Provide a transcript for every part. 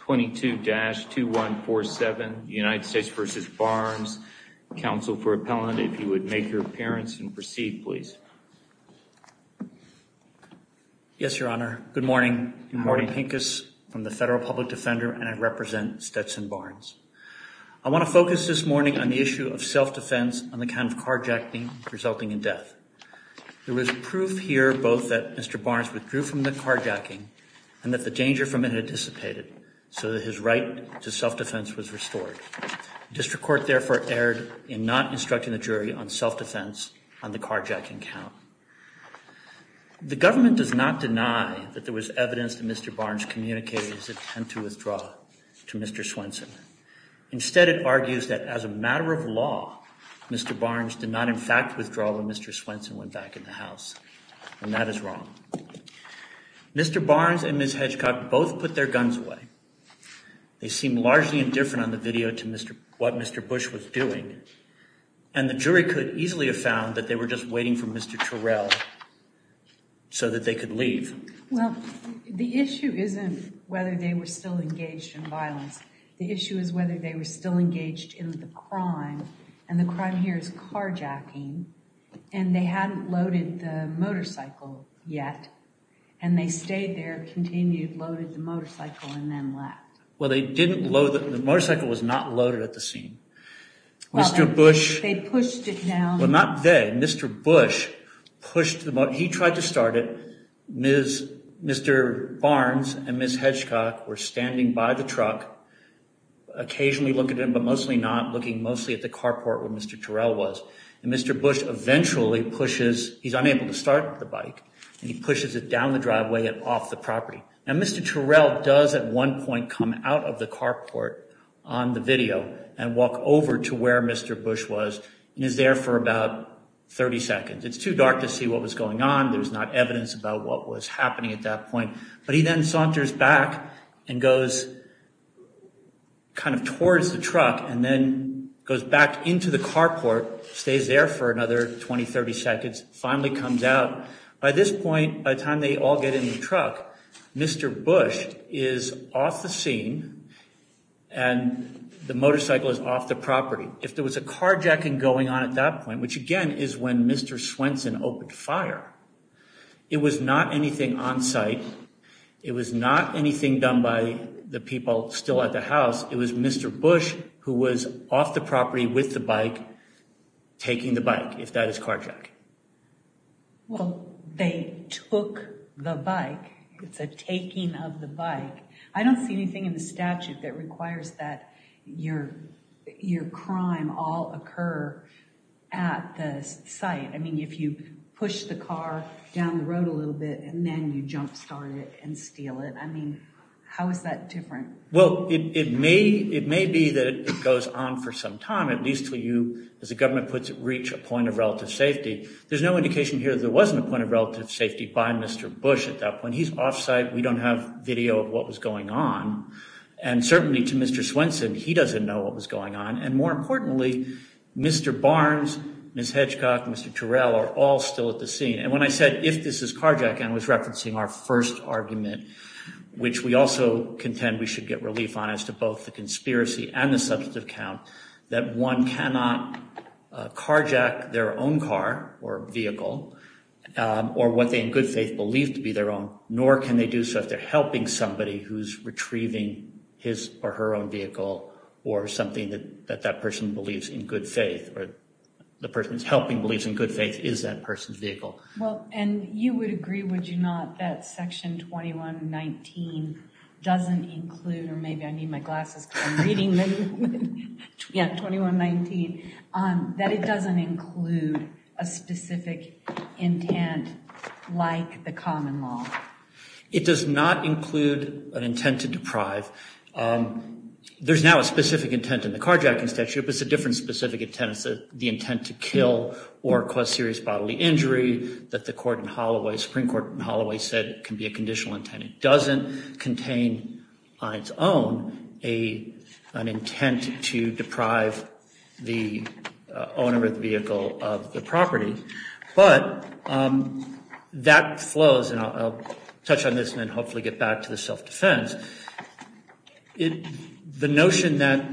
22-2147, United States v. Barnes. Counsel for appellant, if you would make your appearance and proceed, please. Yes, Your Honor. Good morning. I'm Marty Pincus from the Federal Public Defender and I represent Stetson Barnes. I want to focus this morning on the issue of self-defense on the count of carjacking resulting in death. There was proof here both that Mr. Barnes withdrew from the carjacking and that the danger from it had dissipated, so that his right to self-defense was restored. District Court therefore erred in not instructing the jury on self-defense on the carjacking count. The government does not deny that there was evidence that Mr. Barnes communicated his intent to withdraw to Mr. Swenson. Instead, it argues that as a matter of law, Mr. Barnes did not in fact withdraw when Mr. Swenson went back in the house, and that is wrong. Mr. Barnes and Ms. Hedgecock both put their guns away. They seemed largely indifferent on the video to what Mr. Bush was doing, and the jury could easily have found that they were just waiting for Mr. Terrell so that they could leave. Well, the issue isn't whether they were still engaged in violence. The issue is whether they were still engaged in the crime, and the crime here is carjacking, and they hadn't loaded the motorcycle yet, and they stayed there, continued, loaded the motorcycle, and then left. Well, they didn't load—the motorcycle was not loaded at the scene. Mr. Bush— They pushed it down. Well, not they. Mr. Bush pushed the—he tried to start it. Mr. Barnes and Ms. Hedgecock were standing by the truck, occasionally looking at him but mostly not, looking mostly at the carport where Mr. Terrell was. And Mr. Bush eventually pushes—he's unable to start the bike, and he pushes it down the driveway and off the property. Now, Mr. Terrell does at one point come out of the carport on the video and walk over to where Mr. Bush was and is there for about 30 seconds. It's too dark to see what was going on. There's not evidence about what was happening at that point. But he then saunters back and goes kind of towards the truck and then goes back into the carport, stays there for another 20, 30 seconds, finally comes out. By this point, by the time they all get in the truck, Mr. Bush is off the scene, and the motorcycle is off the property. If there was a carjacking going on at that point, which again is when Mr. Swenson opened fire, it was not anything on site. It was not anything done by the people still at the house. It was Mr. Bush who was off the property with the bike, taking the bike, if that is carjacking. Well, they took the bike. It's a taking of the bike. I don't see anything in the statute that requires that your crime all occur at the site. I mean, if you push the car down the road a little bit and then you jump start it and steal it. I mean, how is that different? Well, it may be that it goes on for some time, at least until you, as the government puts it, reach a point of relative safety. There's no indication here that there wasn't a point of relative safety by Mr. Bush at that point. He's off site. We don't have video of what was going on. And certainly to Mr. Swenson, he doesn't know what was going on. And more importantly, Mr. Barnes, Ms. Hedgecock, Mr. Turrell are all still at the scene. And when I said, if this is carjacking, I was referencing our first argument, which we also contend we should get relief on as to both the conspiracy and the substantive count, that one cannot carjack their own car or vehicle or what they in good faith believe to be their own, nor can they do so if they're helping somebody who's retrieving his or her own vehicle or something that that person believes in good faith or the person is helping believes in good faith is that person's vehicle. Well, and you would agree, would you not, that Section 2119 doesn't include, or maybe I need my glasses because I'm reading 2119, that it doesn't include a specific intent like the common law? It does not include an intent to deprive. There's now a specific intent in the carjacking statute, but it's a different specific intent. It's the intent to kill or cause serious bodily injury that the Supreme Court in Holloway said can be a conditional intent. It doesn't contain on its own an intent to deprive the owner of the vehicle of the property. But that flows, and I'll touch on this and then hopefully get back to the self-defense. The notion that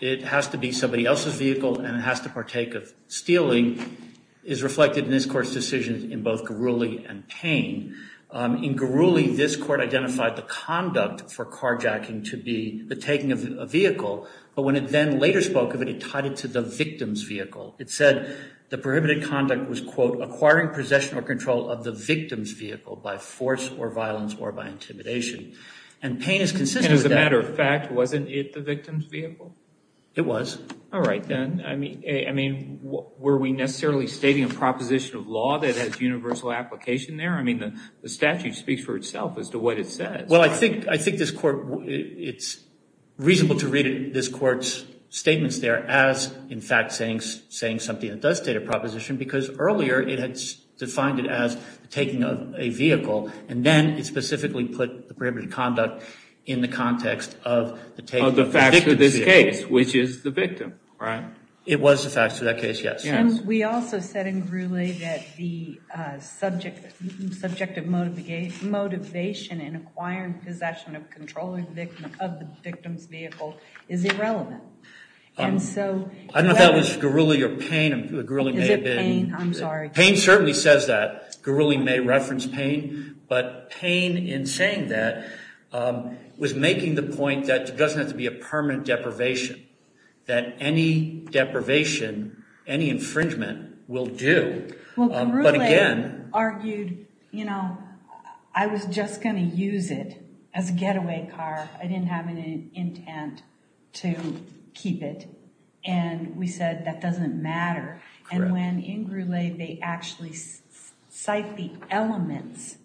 it has to be somebody else's vehicle and it has to partake of stealing is reflected in this Court's decision in both Garuli and Payne. In Garuli, this Court identified the conduct for carjacking to be the taking of a vehicle, but when it then later spoke of it, it tied it to the victim's vehicle. It said the prohibited conduct was, quote, acquiring possession or control of the victim's vehicle by force or violence or by intimidation. And Payne is consistent with that. And as a matter of fact, wasn't it the victim's vehicle? It was. All right, then. I mean, were we necessarily stating a proposition of law that has universal application there? I mean, the statute speaks for itself as to what it says. Well, I think this Court, it's reasonable to read this Court's statements there as, in fact, saying something that does state a proposition because earlier it had defined it as the taking of a vehicle, and then it specifically put the prohibited conduct in the context of the taking of the victim's vehicle. Of the facts of this case, which is the victim, right? It was the facts of that case, yes. And we also said in Gurule that the subject of motivation in acquiring possession of controlling of the victim's vehicle is irrelevant. I don't know if that was Gurule or Payne. Is it Payne? I'm sorry. Payne certainly says that. Gurule may reference Payne. But Payne, in saying that, was making the point that there doesn't have to be a permanent deprivation, that any deprivation, any infringement will do. Well, Gurule argued, you know, I was just going to use it as a getaway car. I didn't have any intent to keep it. And we said that doesn't matter. And when in Gurule they actually cite the elements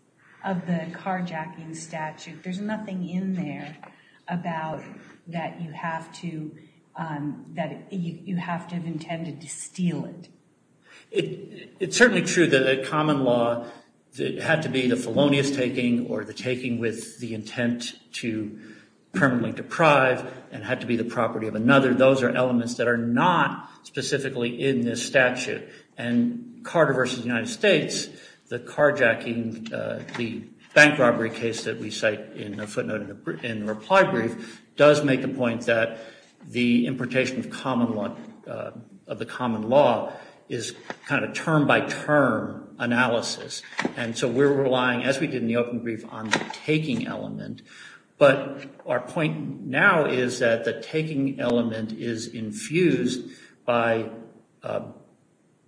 of the carjacking statute, there's nothing in there about that you have to have intended to steal it. It's certainly true that a common law had to be the felonious taking or the taking with the intent to permanently deprive and had to be the property of another. Those are elements that are not specifically in this statute. And Carter versus the United States, the carjacking, the bank robbery case that we cite in the footnote in the reply brief, does make the point that the importation of the common law is kind of term by term analysis. And so we're relying, as we did in the open brief, on the taking element. But our point now is that the taking element is infused by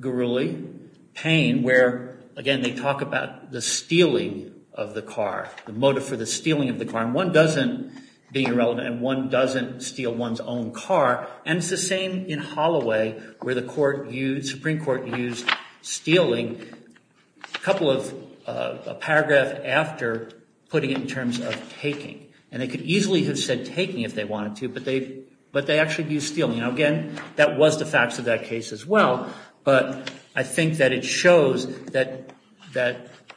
Gurule, Payne, where, again, they talk about the stealing of the car, the motive for the stealing of the car. And one doesn't, being irrelevant, and one doesn't steal one's own car. And it's the same in Holloway where the Supreme Court used stealing. A couple of paragraphs after putting it in terms of taking. And they could easily have said taking if they wanted to, but they actually used stealing. Now, again, that was the facts of that case as well. But I think that it shows that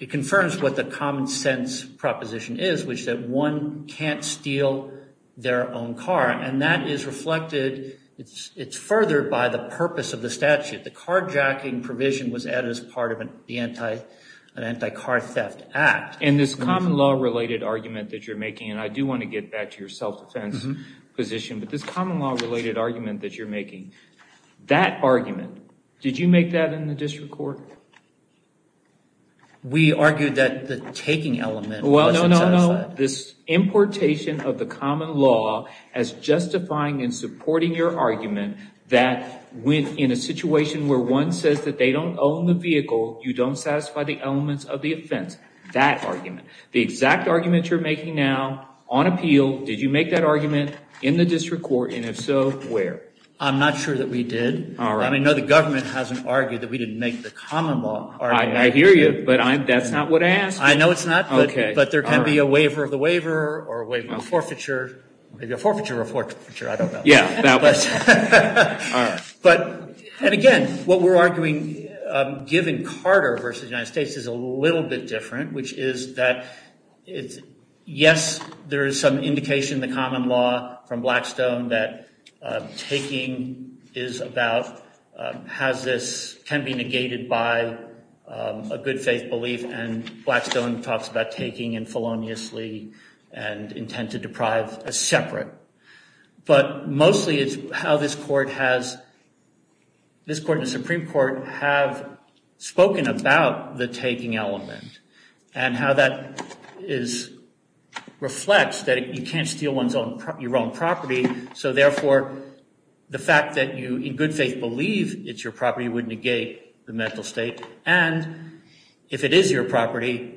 it confirms what the common sense proposition is, which is that one can't steal their own car. And that is reflected. It's furthered by the purpose of the statute. The carjacking provision was added as part of an anti-car theft act. And this common law related argument that you're making, and I do want to get back to your self-defense position, but this common law related argument that you're making, that argument, did you make that in the district court? We argued that the taking element wasn't satisfied. This importation of the common law as justifying and supporting your argument that in a situation where one says that they don't own the vehicle, you don't satisfy the elements of the offense. That argument. The exact argument you're making now on appeal, did you make that argument in the district court? And if so, where? I'm not sure that we did. I mean, no, the government hasn't argued that we didn't make the common law argument. I hear you, but that's not what I asked. I know it's not, but there can be a waiver of the waiver or a waiver of forfeiture. Maybe a forfeiture of a forfeiture, I don't know. And again, what we're arguing, given Carter versus the United States, is a little bit different, which is that yes, there is some indication in the common law from Blackstone that taking is about, has this, can be negated by a good faith belief, and Blackstone talks about taking and feloniously and intent to deprive as separate. But mostly it's how this court and the Supreme Court have spoken about the taking element and how that reflects that you can't steal your own property, so therefore the fact that you in good faith believe it's your property would negate the mental state. And if it is your property,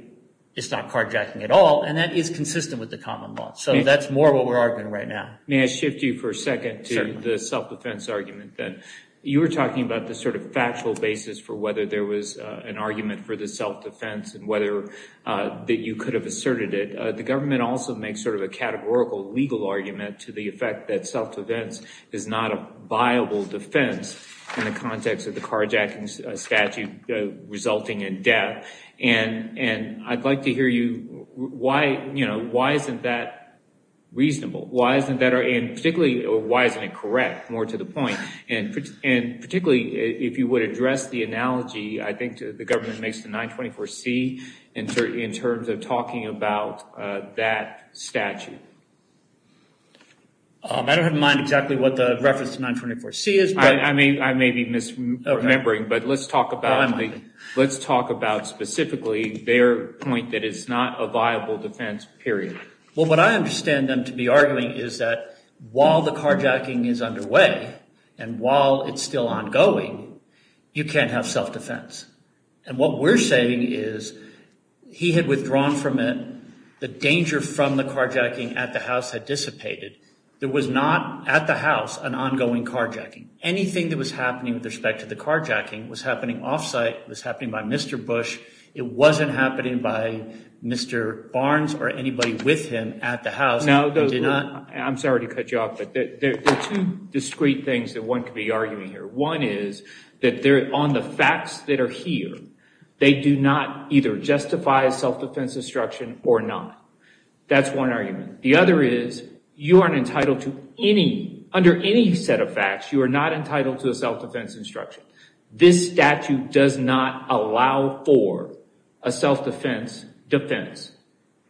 it's not carjacking at all, and that is consistent with the common law. So that's more what we're arguing right now. May I shift you for a second to the self-defense argument? You were talking about the sort of factual basis for whether there was an argument for the self-defense and whether that you could have asserted it. The government also makes sort of a categorical legal argument to the effect that self-defense is not a viable defense in the context of the carjacking statute resulting in death. And I'd like to hear you, you know, why isn't that reasonable? And particularly, why isn't it correct? More to the point. And particularly if you would address the analogy I think the government makes to 924C in terms of talking about that statute. I don't have in mind exactly what the reference to 924C is. I may be misremembering, but let's talk about specifically their point that it's not a viable defense, period. Well, what I understand them to be arguing is that while the carjacking is underway and while it's still ongoing, you can't have self-defense. And what we're saying is he had withdrawn from it. The danger from the carjacking at the house had dissipated. There was not at the house an ongoing carjacking. Anything that was happening with respect to the carjacking was happening off-site. It was happening by Mr. Bush. It wasn't happening by Mr. Barnes or anybody with him at the house. I'm sorry to cut you off, but there are two discreet things that one could be arguing here. One is that on the facts that are here, they do not either justify a self-defense instruction or not. That's one argument. The other is you aren't entitled to any, under any set of facts, you are not entitled to a self-defense instruction. This statute does not allow for a self-defense defense.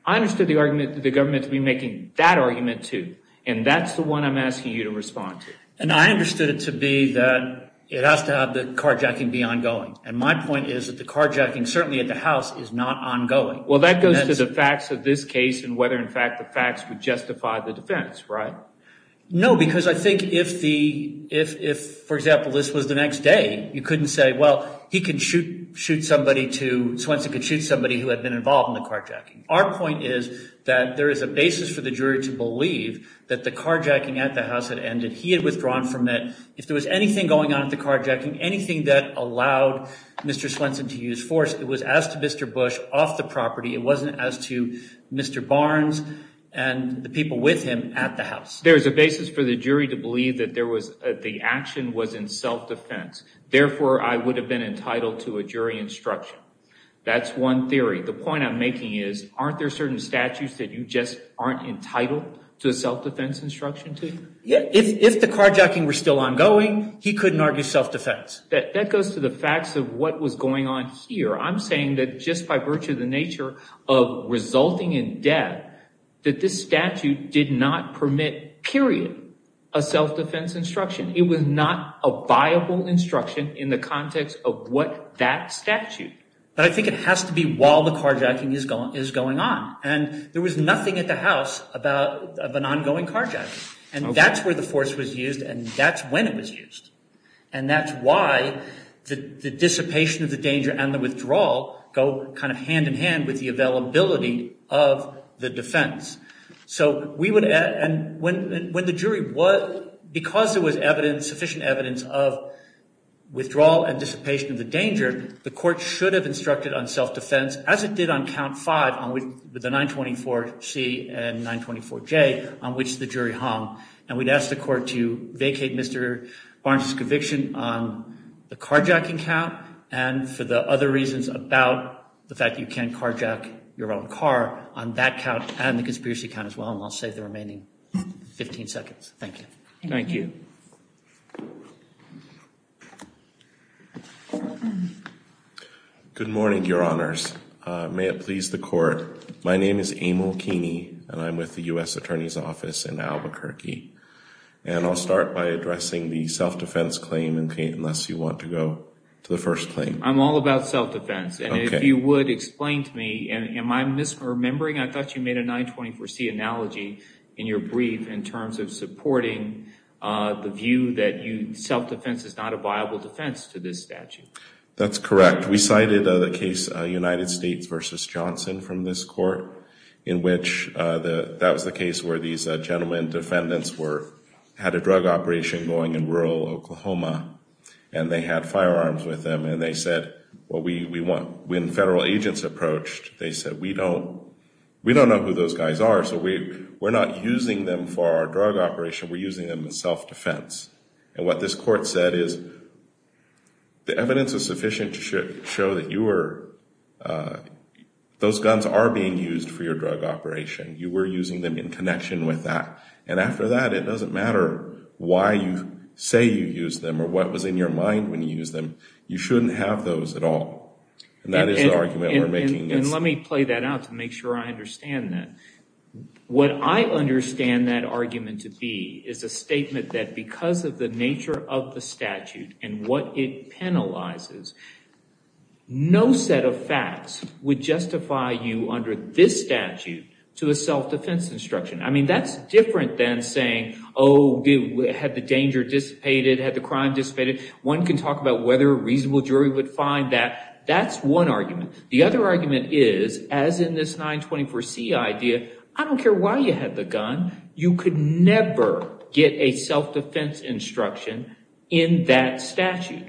I understood the argument that the government would be making that argument too, and that's the one I'm asking you to respond to. And I understood it to be that it has to have the carjacking be ongoing, and my point is that the carjacking certainly at the house is not ongoing. Well, that goes to the facts of this case and whether, in fact, the facts would justify the defense, right? No, because I think if, for example, this was the next day, you couldn't say, well, he could shoot somebody to, Swenson could shoot somebody who had been involved in the carjacking. Our point is that there is a basis for the jury to believe that the carjacking at the house had ended. He had withdrawn from it. If there was anything going on at the carjacking, anything that allowed Mr. Swenson to use force, it was as to Mr. Bush off the property. It wasn't as to Mr. Barnes and the people with him at the house. There is a basis for the jury to believe that the action was in self-defense. Therefore, I would have been entitled to a jury instruction. That's one theory. The point I'm making is aren't there certain statutes that you just aren't entitled to a self-defense instruction too? If the carjacking were still ongoing, he couldn't argue self-defense. That goes to the facts of what was going on here. I'm saying that just by virtue of the nature of resulting in death, that this statute did not permit, period, a self-defense instruction. It was not a viable instruction in the context of what that statute. But I think it has to be while the carjacking is going on. There was nothing at the house of an ongoing carjacking. That's where the force was used and that's when it was used. That's why the dissipation of the danger and the withdrawal go kind of hand-in-hand with the availability of the defense. Because there was sufficient evidence of withdrawal and dissipation of the danger, the court should have instructed on self-defense as it did on count five, the 924C and 924J, on which the jury hung. And we'd ask the court to vacate Mr. Barnes' conviction on the carjacking count and for the other reasons about the fact you can't carjack your own car on that count and the conspiracy count as well. And I'll save the remaining 15 seconds. Thank you. Thank you. Good morning, Your Honors. May it please the court. My name is Emil Keeney and I'm with the U.S. Attorney's Office in Albuquerque. And I'll start by addressing the self-defense claim, unless you want to go to the first claim. I'm all about self-defense. And if you would explain to me, am I misremembering? I thought you made a 924C analogy in your brief in terms of supporting the view that self-defense is not a viable defense to this statute. That's correct. We cited the case United States v. Johnson from this court in which that was the case where these gentlemen defendants had a drug operation going in rural Oklahoma. And they had firearms with them. And they said, when federal agents approached, they said, we don't know who those guys are. So we're not using them for our drug operation. We're using them as self-defense. And what this court said is, the evidence is sufficient to show that those guns are being used for your drug operation. You were using them in connection with that. And after that, it doesn't matter why you say you used them or what was in your mind when you used them. You shouldn't have those at all. And that is the argument we're making. And let me play that out to make sure I understand that. What I understand that argument to be is a statement that because of the nature of the statute and what it penalizes, no set of facts would justify you under this statute to a self-defense instruction. I mean, that's different than saying, oh, had the danger dissipated, had the crime dissipated? One can talk about whether a reasonable jury would find that. That's one argument. The other argument is, as in this 924C idea, I don't care why you had the gun. You could never get a self-defense instruction in that statute.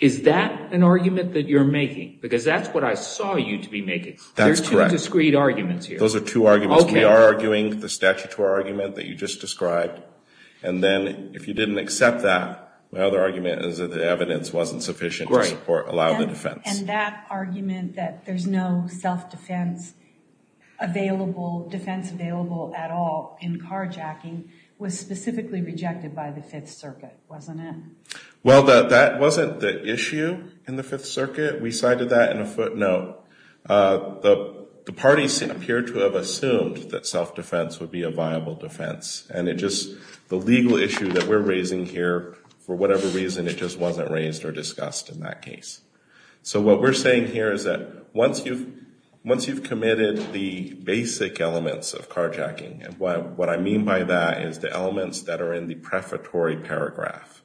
Is that an argument that you're making? Because that's what I saw you to be making. There's two discreet arguments here. Those are two arguments. We are arguing the statutory argument that you just described. And then if you didn't accept that, my other argument is that the evidence wasn't sufficient to support or allow the defense. And that argument that there's no self-defense available, defense available at all in carjacking, was specifically rejected by the Fifth Circuit, wasn't it? Well, that wasn't the issue in the Fifth Circuit. We cited that in a footnote. The parties appear to have assumed that self-defense would be a viable defense. And it just, the legal issue that we're raising here, for whatever reason, it just wasn't raised or discussed in that case. So what we're saying here is that once you've committed the basic elements of carjacking, and what I mean by that is the elements that are in the prefatory paragraph.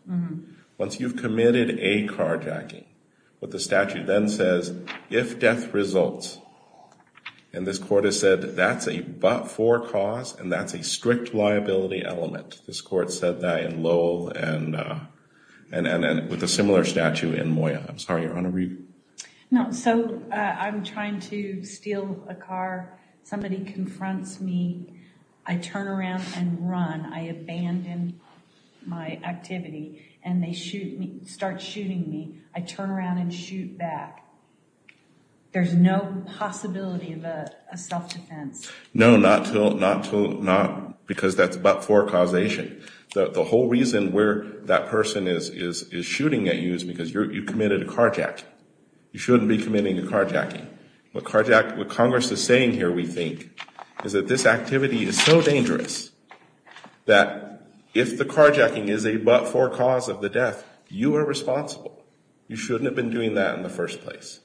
Once you've committed a carjacking, what the statute then says, if death results, and this court has said that's a but-for cause, and that's a strict liability element. This court said that in Lowell and with a similar statute in Moya. I'm sorry, Your Honor, were you? No, so I'm trying to steal a car. Somebody confronts me. I turn around and run. I abandon my activity, and they start shooting me. I turn around and shoot back. There's no possibility of a self-defense. No, not because that's but-for causation. The whole reason where that person is shooting at you is because you committed a carjacking. You shouldn't be committing a carjacking. What Congress is saying here, we think, is that this activity is so dangerous that if the carjacking is a but-for cause of the death, you are responsible. You shouldn't have been doing that in the first place.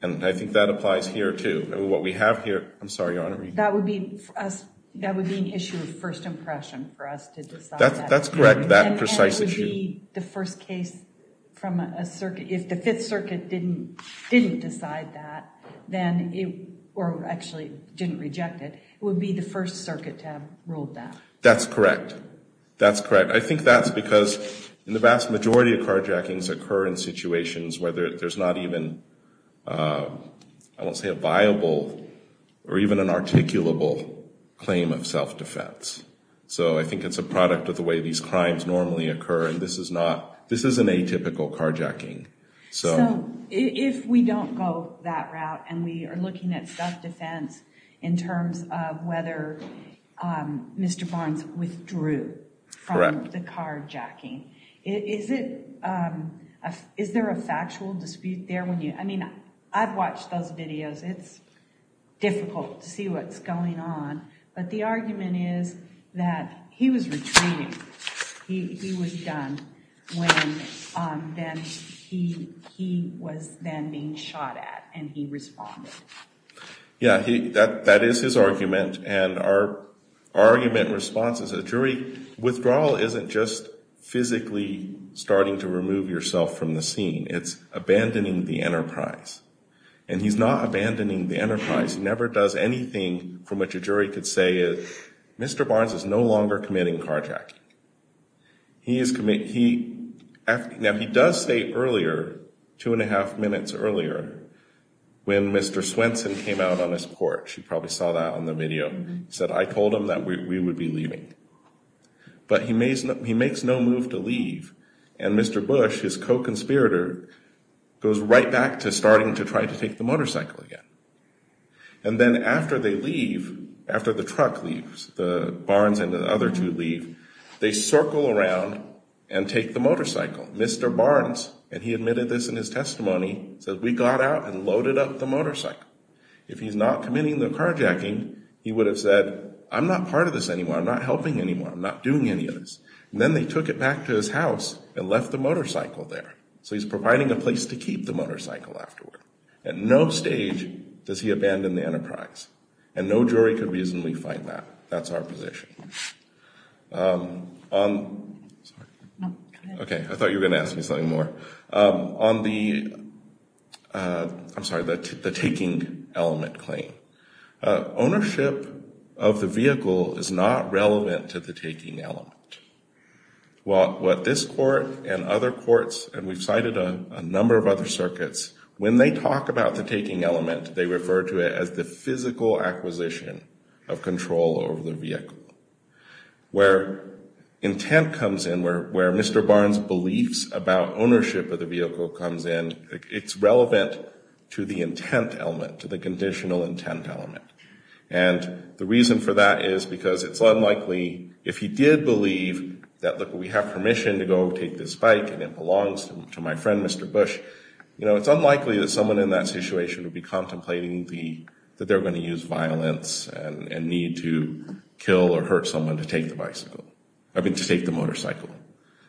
And I think that applies here, too. What we have here, I'm sorry, Your Honor, were you? That would be an issue of first impression for us to decide that. That's correct, that precise issue. And it would be the first case from a circuit. If the Fifth Circuit didn't decide that, or actually didn't reject it, it would be the First Circuit to have ruled that. That's correct. That's correct. I think that's because the vast majority of carjackings occur in situations where there's not even, I won't say a viable, or even an articulable claim of self-defense. So I think it's a product of the way these crimes normally occur, and this is an atypical carjacking. So if we don't go that route and we are looking at self-defense in terms of whether Mr. Barnes withdrew from the carjacking, is there a factual dispute there? I mean, I've watched those videos. It's difficult to see what's going on. But the argument is that he was retreating. He was done when he was then being shot at, and he responded. Yeah, that is his argument. And our argument response is a jury withdrawal isn't just physically starting to remove yourself from the scene. It's abandoning the enterprise. And he's not abandoning the enterprise. He never does anything from which a jury could say Mr. Barnes is no longer committing carjacking. Now, he does say earlier, two and a half minutes earlier, when Mr. Swenson came out on his porch. You probably saw that on the video. He said, I told him that we would be leaving. But he makes no move to leave, and Mr. Bush, his co-conspirator, goes right back to starting to try to take the motorcycle again. And then after they leave, after the truck leaves, the Barnes and the other two leave, they circle around and take the motorcycle. Mr. Barnes, and he admitted this in his testimony, said, we got out and loaded up the motorcycle. If he's not committing the carjacking, he would have said, I'm not part of this anymore. I'm not helping anymore. I'm not doing any of this. And then they took it back to his house and left the motorcycle there. So he's providing a place to keep the motorcycle afterward. At no stage does he abandon the enterprise. And no jury could reasonably fight that. That's our position. Okay, I thought you were going to ask me something more. On the, I'm sorry, the taking element claim. Ownership of the vehicle is not relevant to the taking element. What this court and other courts, and we've cited a number of other circuits, when they talk about the taking element, they refer to it as the physical acquisition of control over the vehicle. Where intent comes in, where Mr. Barnes' beliefs about ownership of the vehicle comes in, it's relevant to the intent element, to the conditional intent element. And the reason for that is because it's unlikely, if he did believe that, look, we have permission to go take this bike and it belongs to my friend, Mr. Bush, you know, it's unlikely that someone in that situation would be contemplating the, that they're going to use violence and need to kill or hurt someone to take the bicycle. I mean, to take the motorcycle.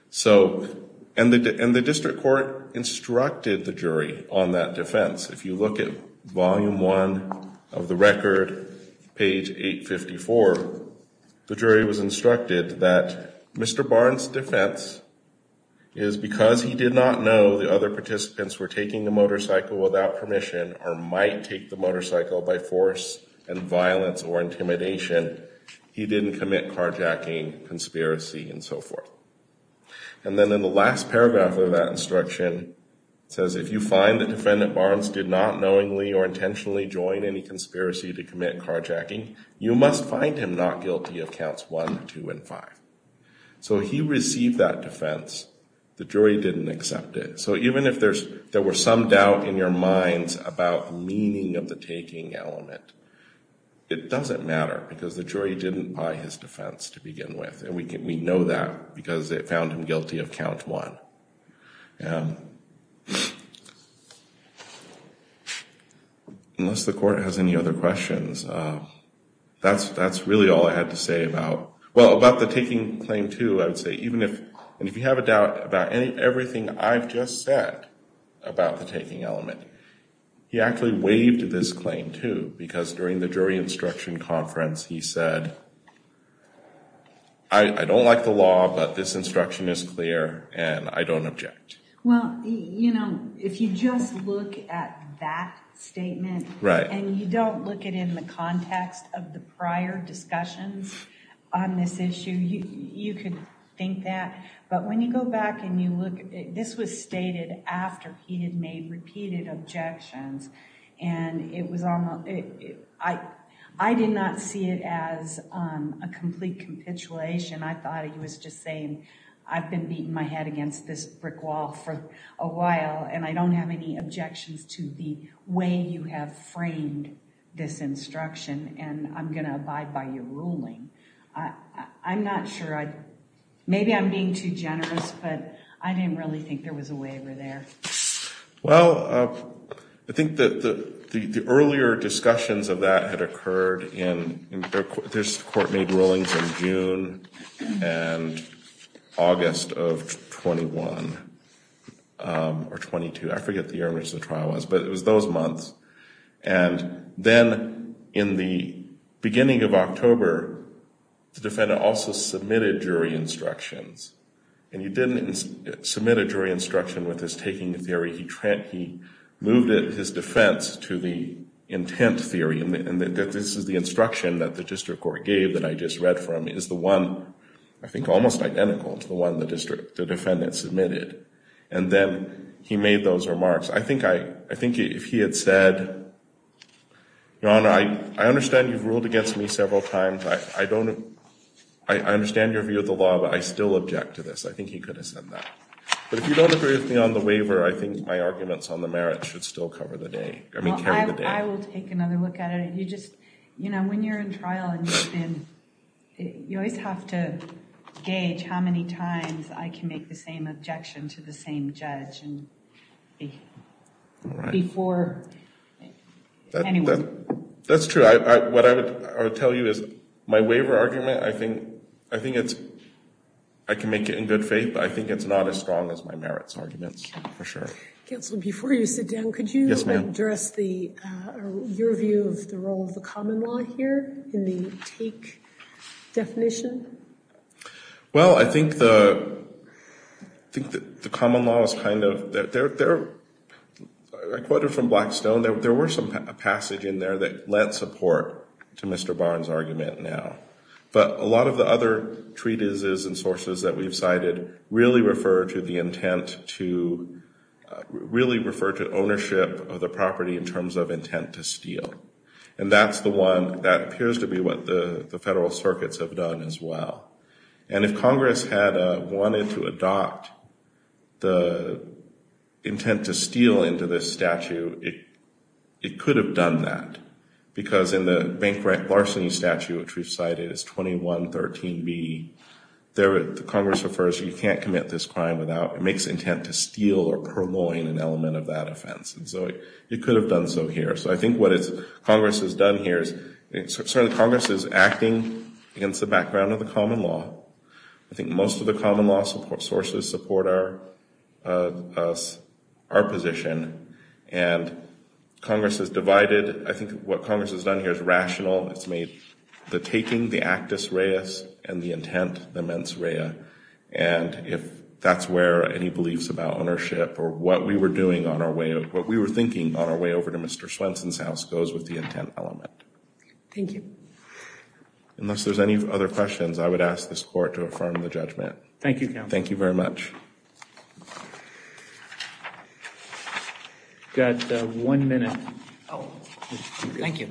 So, and the district court instructed the jury on that defense. If you look at volume one of the record, page 854, the jury was instructed that Mr. Barnes' defense is because he did not know the other participants were taking the motorcycle without permission or might take the motorcycle by force and violence or intimidation. He didn't commit carjacking, conspiracy, and so forth. And then in the last paragraph of that instruction, it says, if you find that Defendant Barnes did not knowingly or intentionally join any conspiracy to commit carjacking, you must find him not guilty of counts one, two, and five. So he received that defense. The jury didn't accept it. So even if there were some doubt in your minds about the meaning of the taking element, it doesn't matter because the jury didn't buy his defense to begin with. And we know that because it found him guilty of count one. Unless the court has any other questions, that's really all I had to say about, well, about the taking claim two. And if you have a doubt about everything I've just said about the taking element, he actually waived this claim two because during the jury instruction conference he said, I don't like the law, but this instruction is clear and I don't object. Well, you know, if you just look at that statement and you don't look at it in the context of the prior discussions on this issue, you could think that. But when you go back and you look, this was stated after he had made repeated objections. And it was almost, I did not see it as a complete capitulation. I thought he was just saying, I've been beating my head against this brick wall for a while and I don't have any objections to the way you have framed this instruction and I'm going to abide by your ruling. I'm not sure. Maybe I'm being too generous, but I didn't really think there was a waiver there. Well, I think that the earlier discussions of that had occurred in, there's court-made rulings in June and August of 21 or 22. I forget the year in which the trial was, but it was those months. And then in the beginning of October, the defendant also submitted jury instructions. And he didn't submit a jury instruction with his taking the theory. He moved his defense to the intent theory. And this is the instruction that the district court gave that I just read from is the one, I think almost identical to the one the defendant submitted. And then he made those remarks. I think if he had said, Your Honor, I understand you've ruled against me several times. I understand your view of the law, but I still object to this. I think he could have said that. But if you don't agree with me on the waiver, I think my arguments on the merits should still carry the day. I will take another look at it. When you're in trial, you always have to gauge how many times I can make the same objection to the same judge. That's true. What I would tell you is my waiver argument, I think I can make it in good faith, but I think it's not as strong as my merits arguments, for sure. Counsel, before you sit down, could you address your view of the role of the common law here in the take definition? Well, I think the common law is kind of, I quoted from Blackstone, there were some passage in there that lent support to Mr. Barnes' argument now. But a lot of the other treatises and sources that we've cited really refer to the intent to, really refer to ownership of the property in terms of intent to steal. And that's the one, that appears to be what the federal circuits have done as well. And if Congress had wanted to adopt the intent to steal into this statute, it could have done that. Because in the bankrupt larceny statute, which we've cited, it's 2113B, there Congress refers, you can't commit this crime without, it makes intent to steal or purloin an element of that offense. And so it could have done so here. So I think what Congress has done here is, certainly Congress is acting against the background of the common law. I think most of the common law sources support our position. And Congress has divided, I think what Congress has done here is rational. It's made the taking the actus reus and the intent the mens rea. And if that's where any beliefs about ownership or what we were doing on our way, what we were thinking on our way over to Mr. Swenson's house goes with the intent element. Thank you. Unless there's any other questions, I would ask this Court to affirm the judgment. Thank you, Counselor. Thank you very much. We've got one minute. Thank you.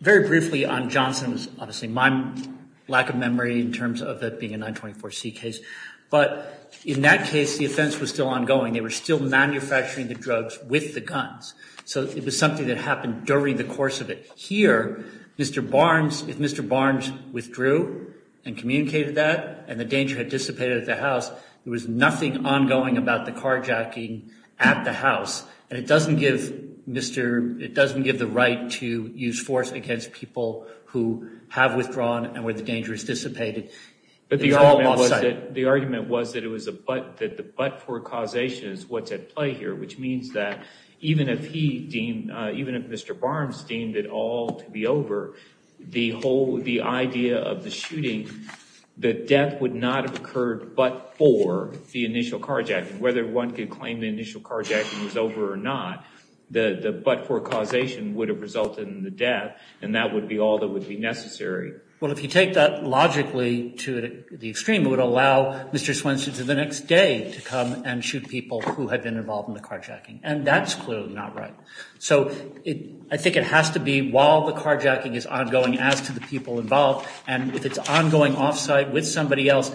Very briefly on Johnson's, obviously, my lack of memory in terms of it being a 924C case. But in that case, the offense was still ongoing. They were still manufacturing the drugs with the guns. So it was something that happened during the course of it. Here, Mr. Barnes, if Mr. Barnes withdrew and communicated that and the danger had dissipated at the house, there was nothing ongoing about the carjacking at the house. And it doesn't give Mr. It doesn't give the right to use force against people who have withdrawn and where the danger has dissipated. But the argument was that it was a but that the but for causation is what's at play here, which means that even if he deemed even if Mr. Barnes deemed it all to be over, the whole the idea of the shooting, the death would not have occurred but for the initial carjacking, whether one could claim the initial carjacking was over or not, the but for causation would have resulted in the death. And that would be all that would be necessary. Well, if you take that logically to the extreme, it would allow Mr. Swenson to the next day to come and shoot people who had been involved in the carjacking. And that's clearly not right. So I think it has to be while the carjacking is ongoing as to the people involved. And if it's ongoing offsite with somebody else,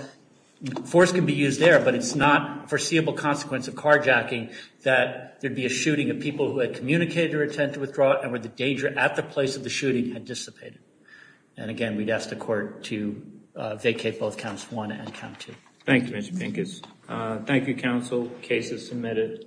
force can be used there, but it's not foreseeable consequence of carjacking that there'd be a shooting of people who had communicated or attempt to withdraw and where the danger at the place of the shooting had dissipated. And again, we'd ask the court to vacate both counts one and count two. Thank you, Mr. Pinkus. Thank you, counsel. Case is submitted.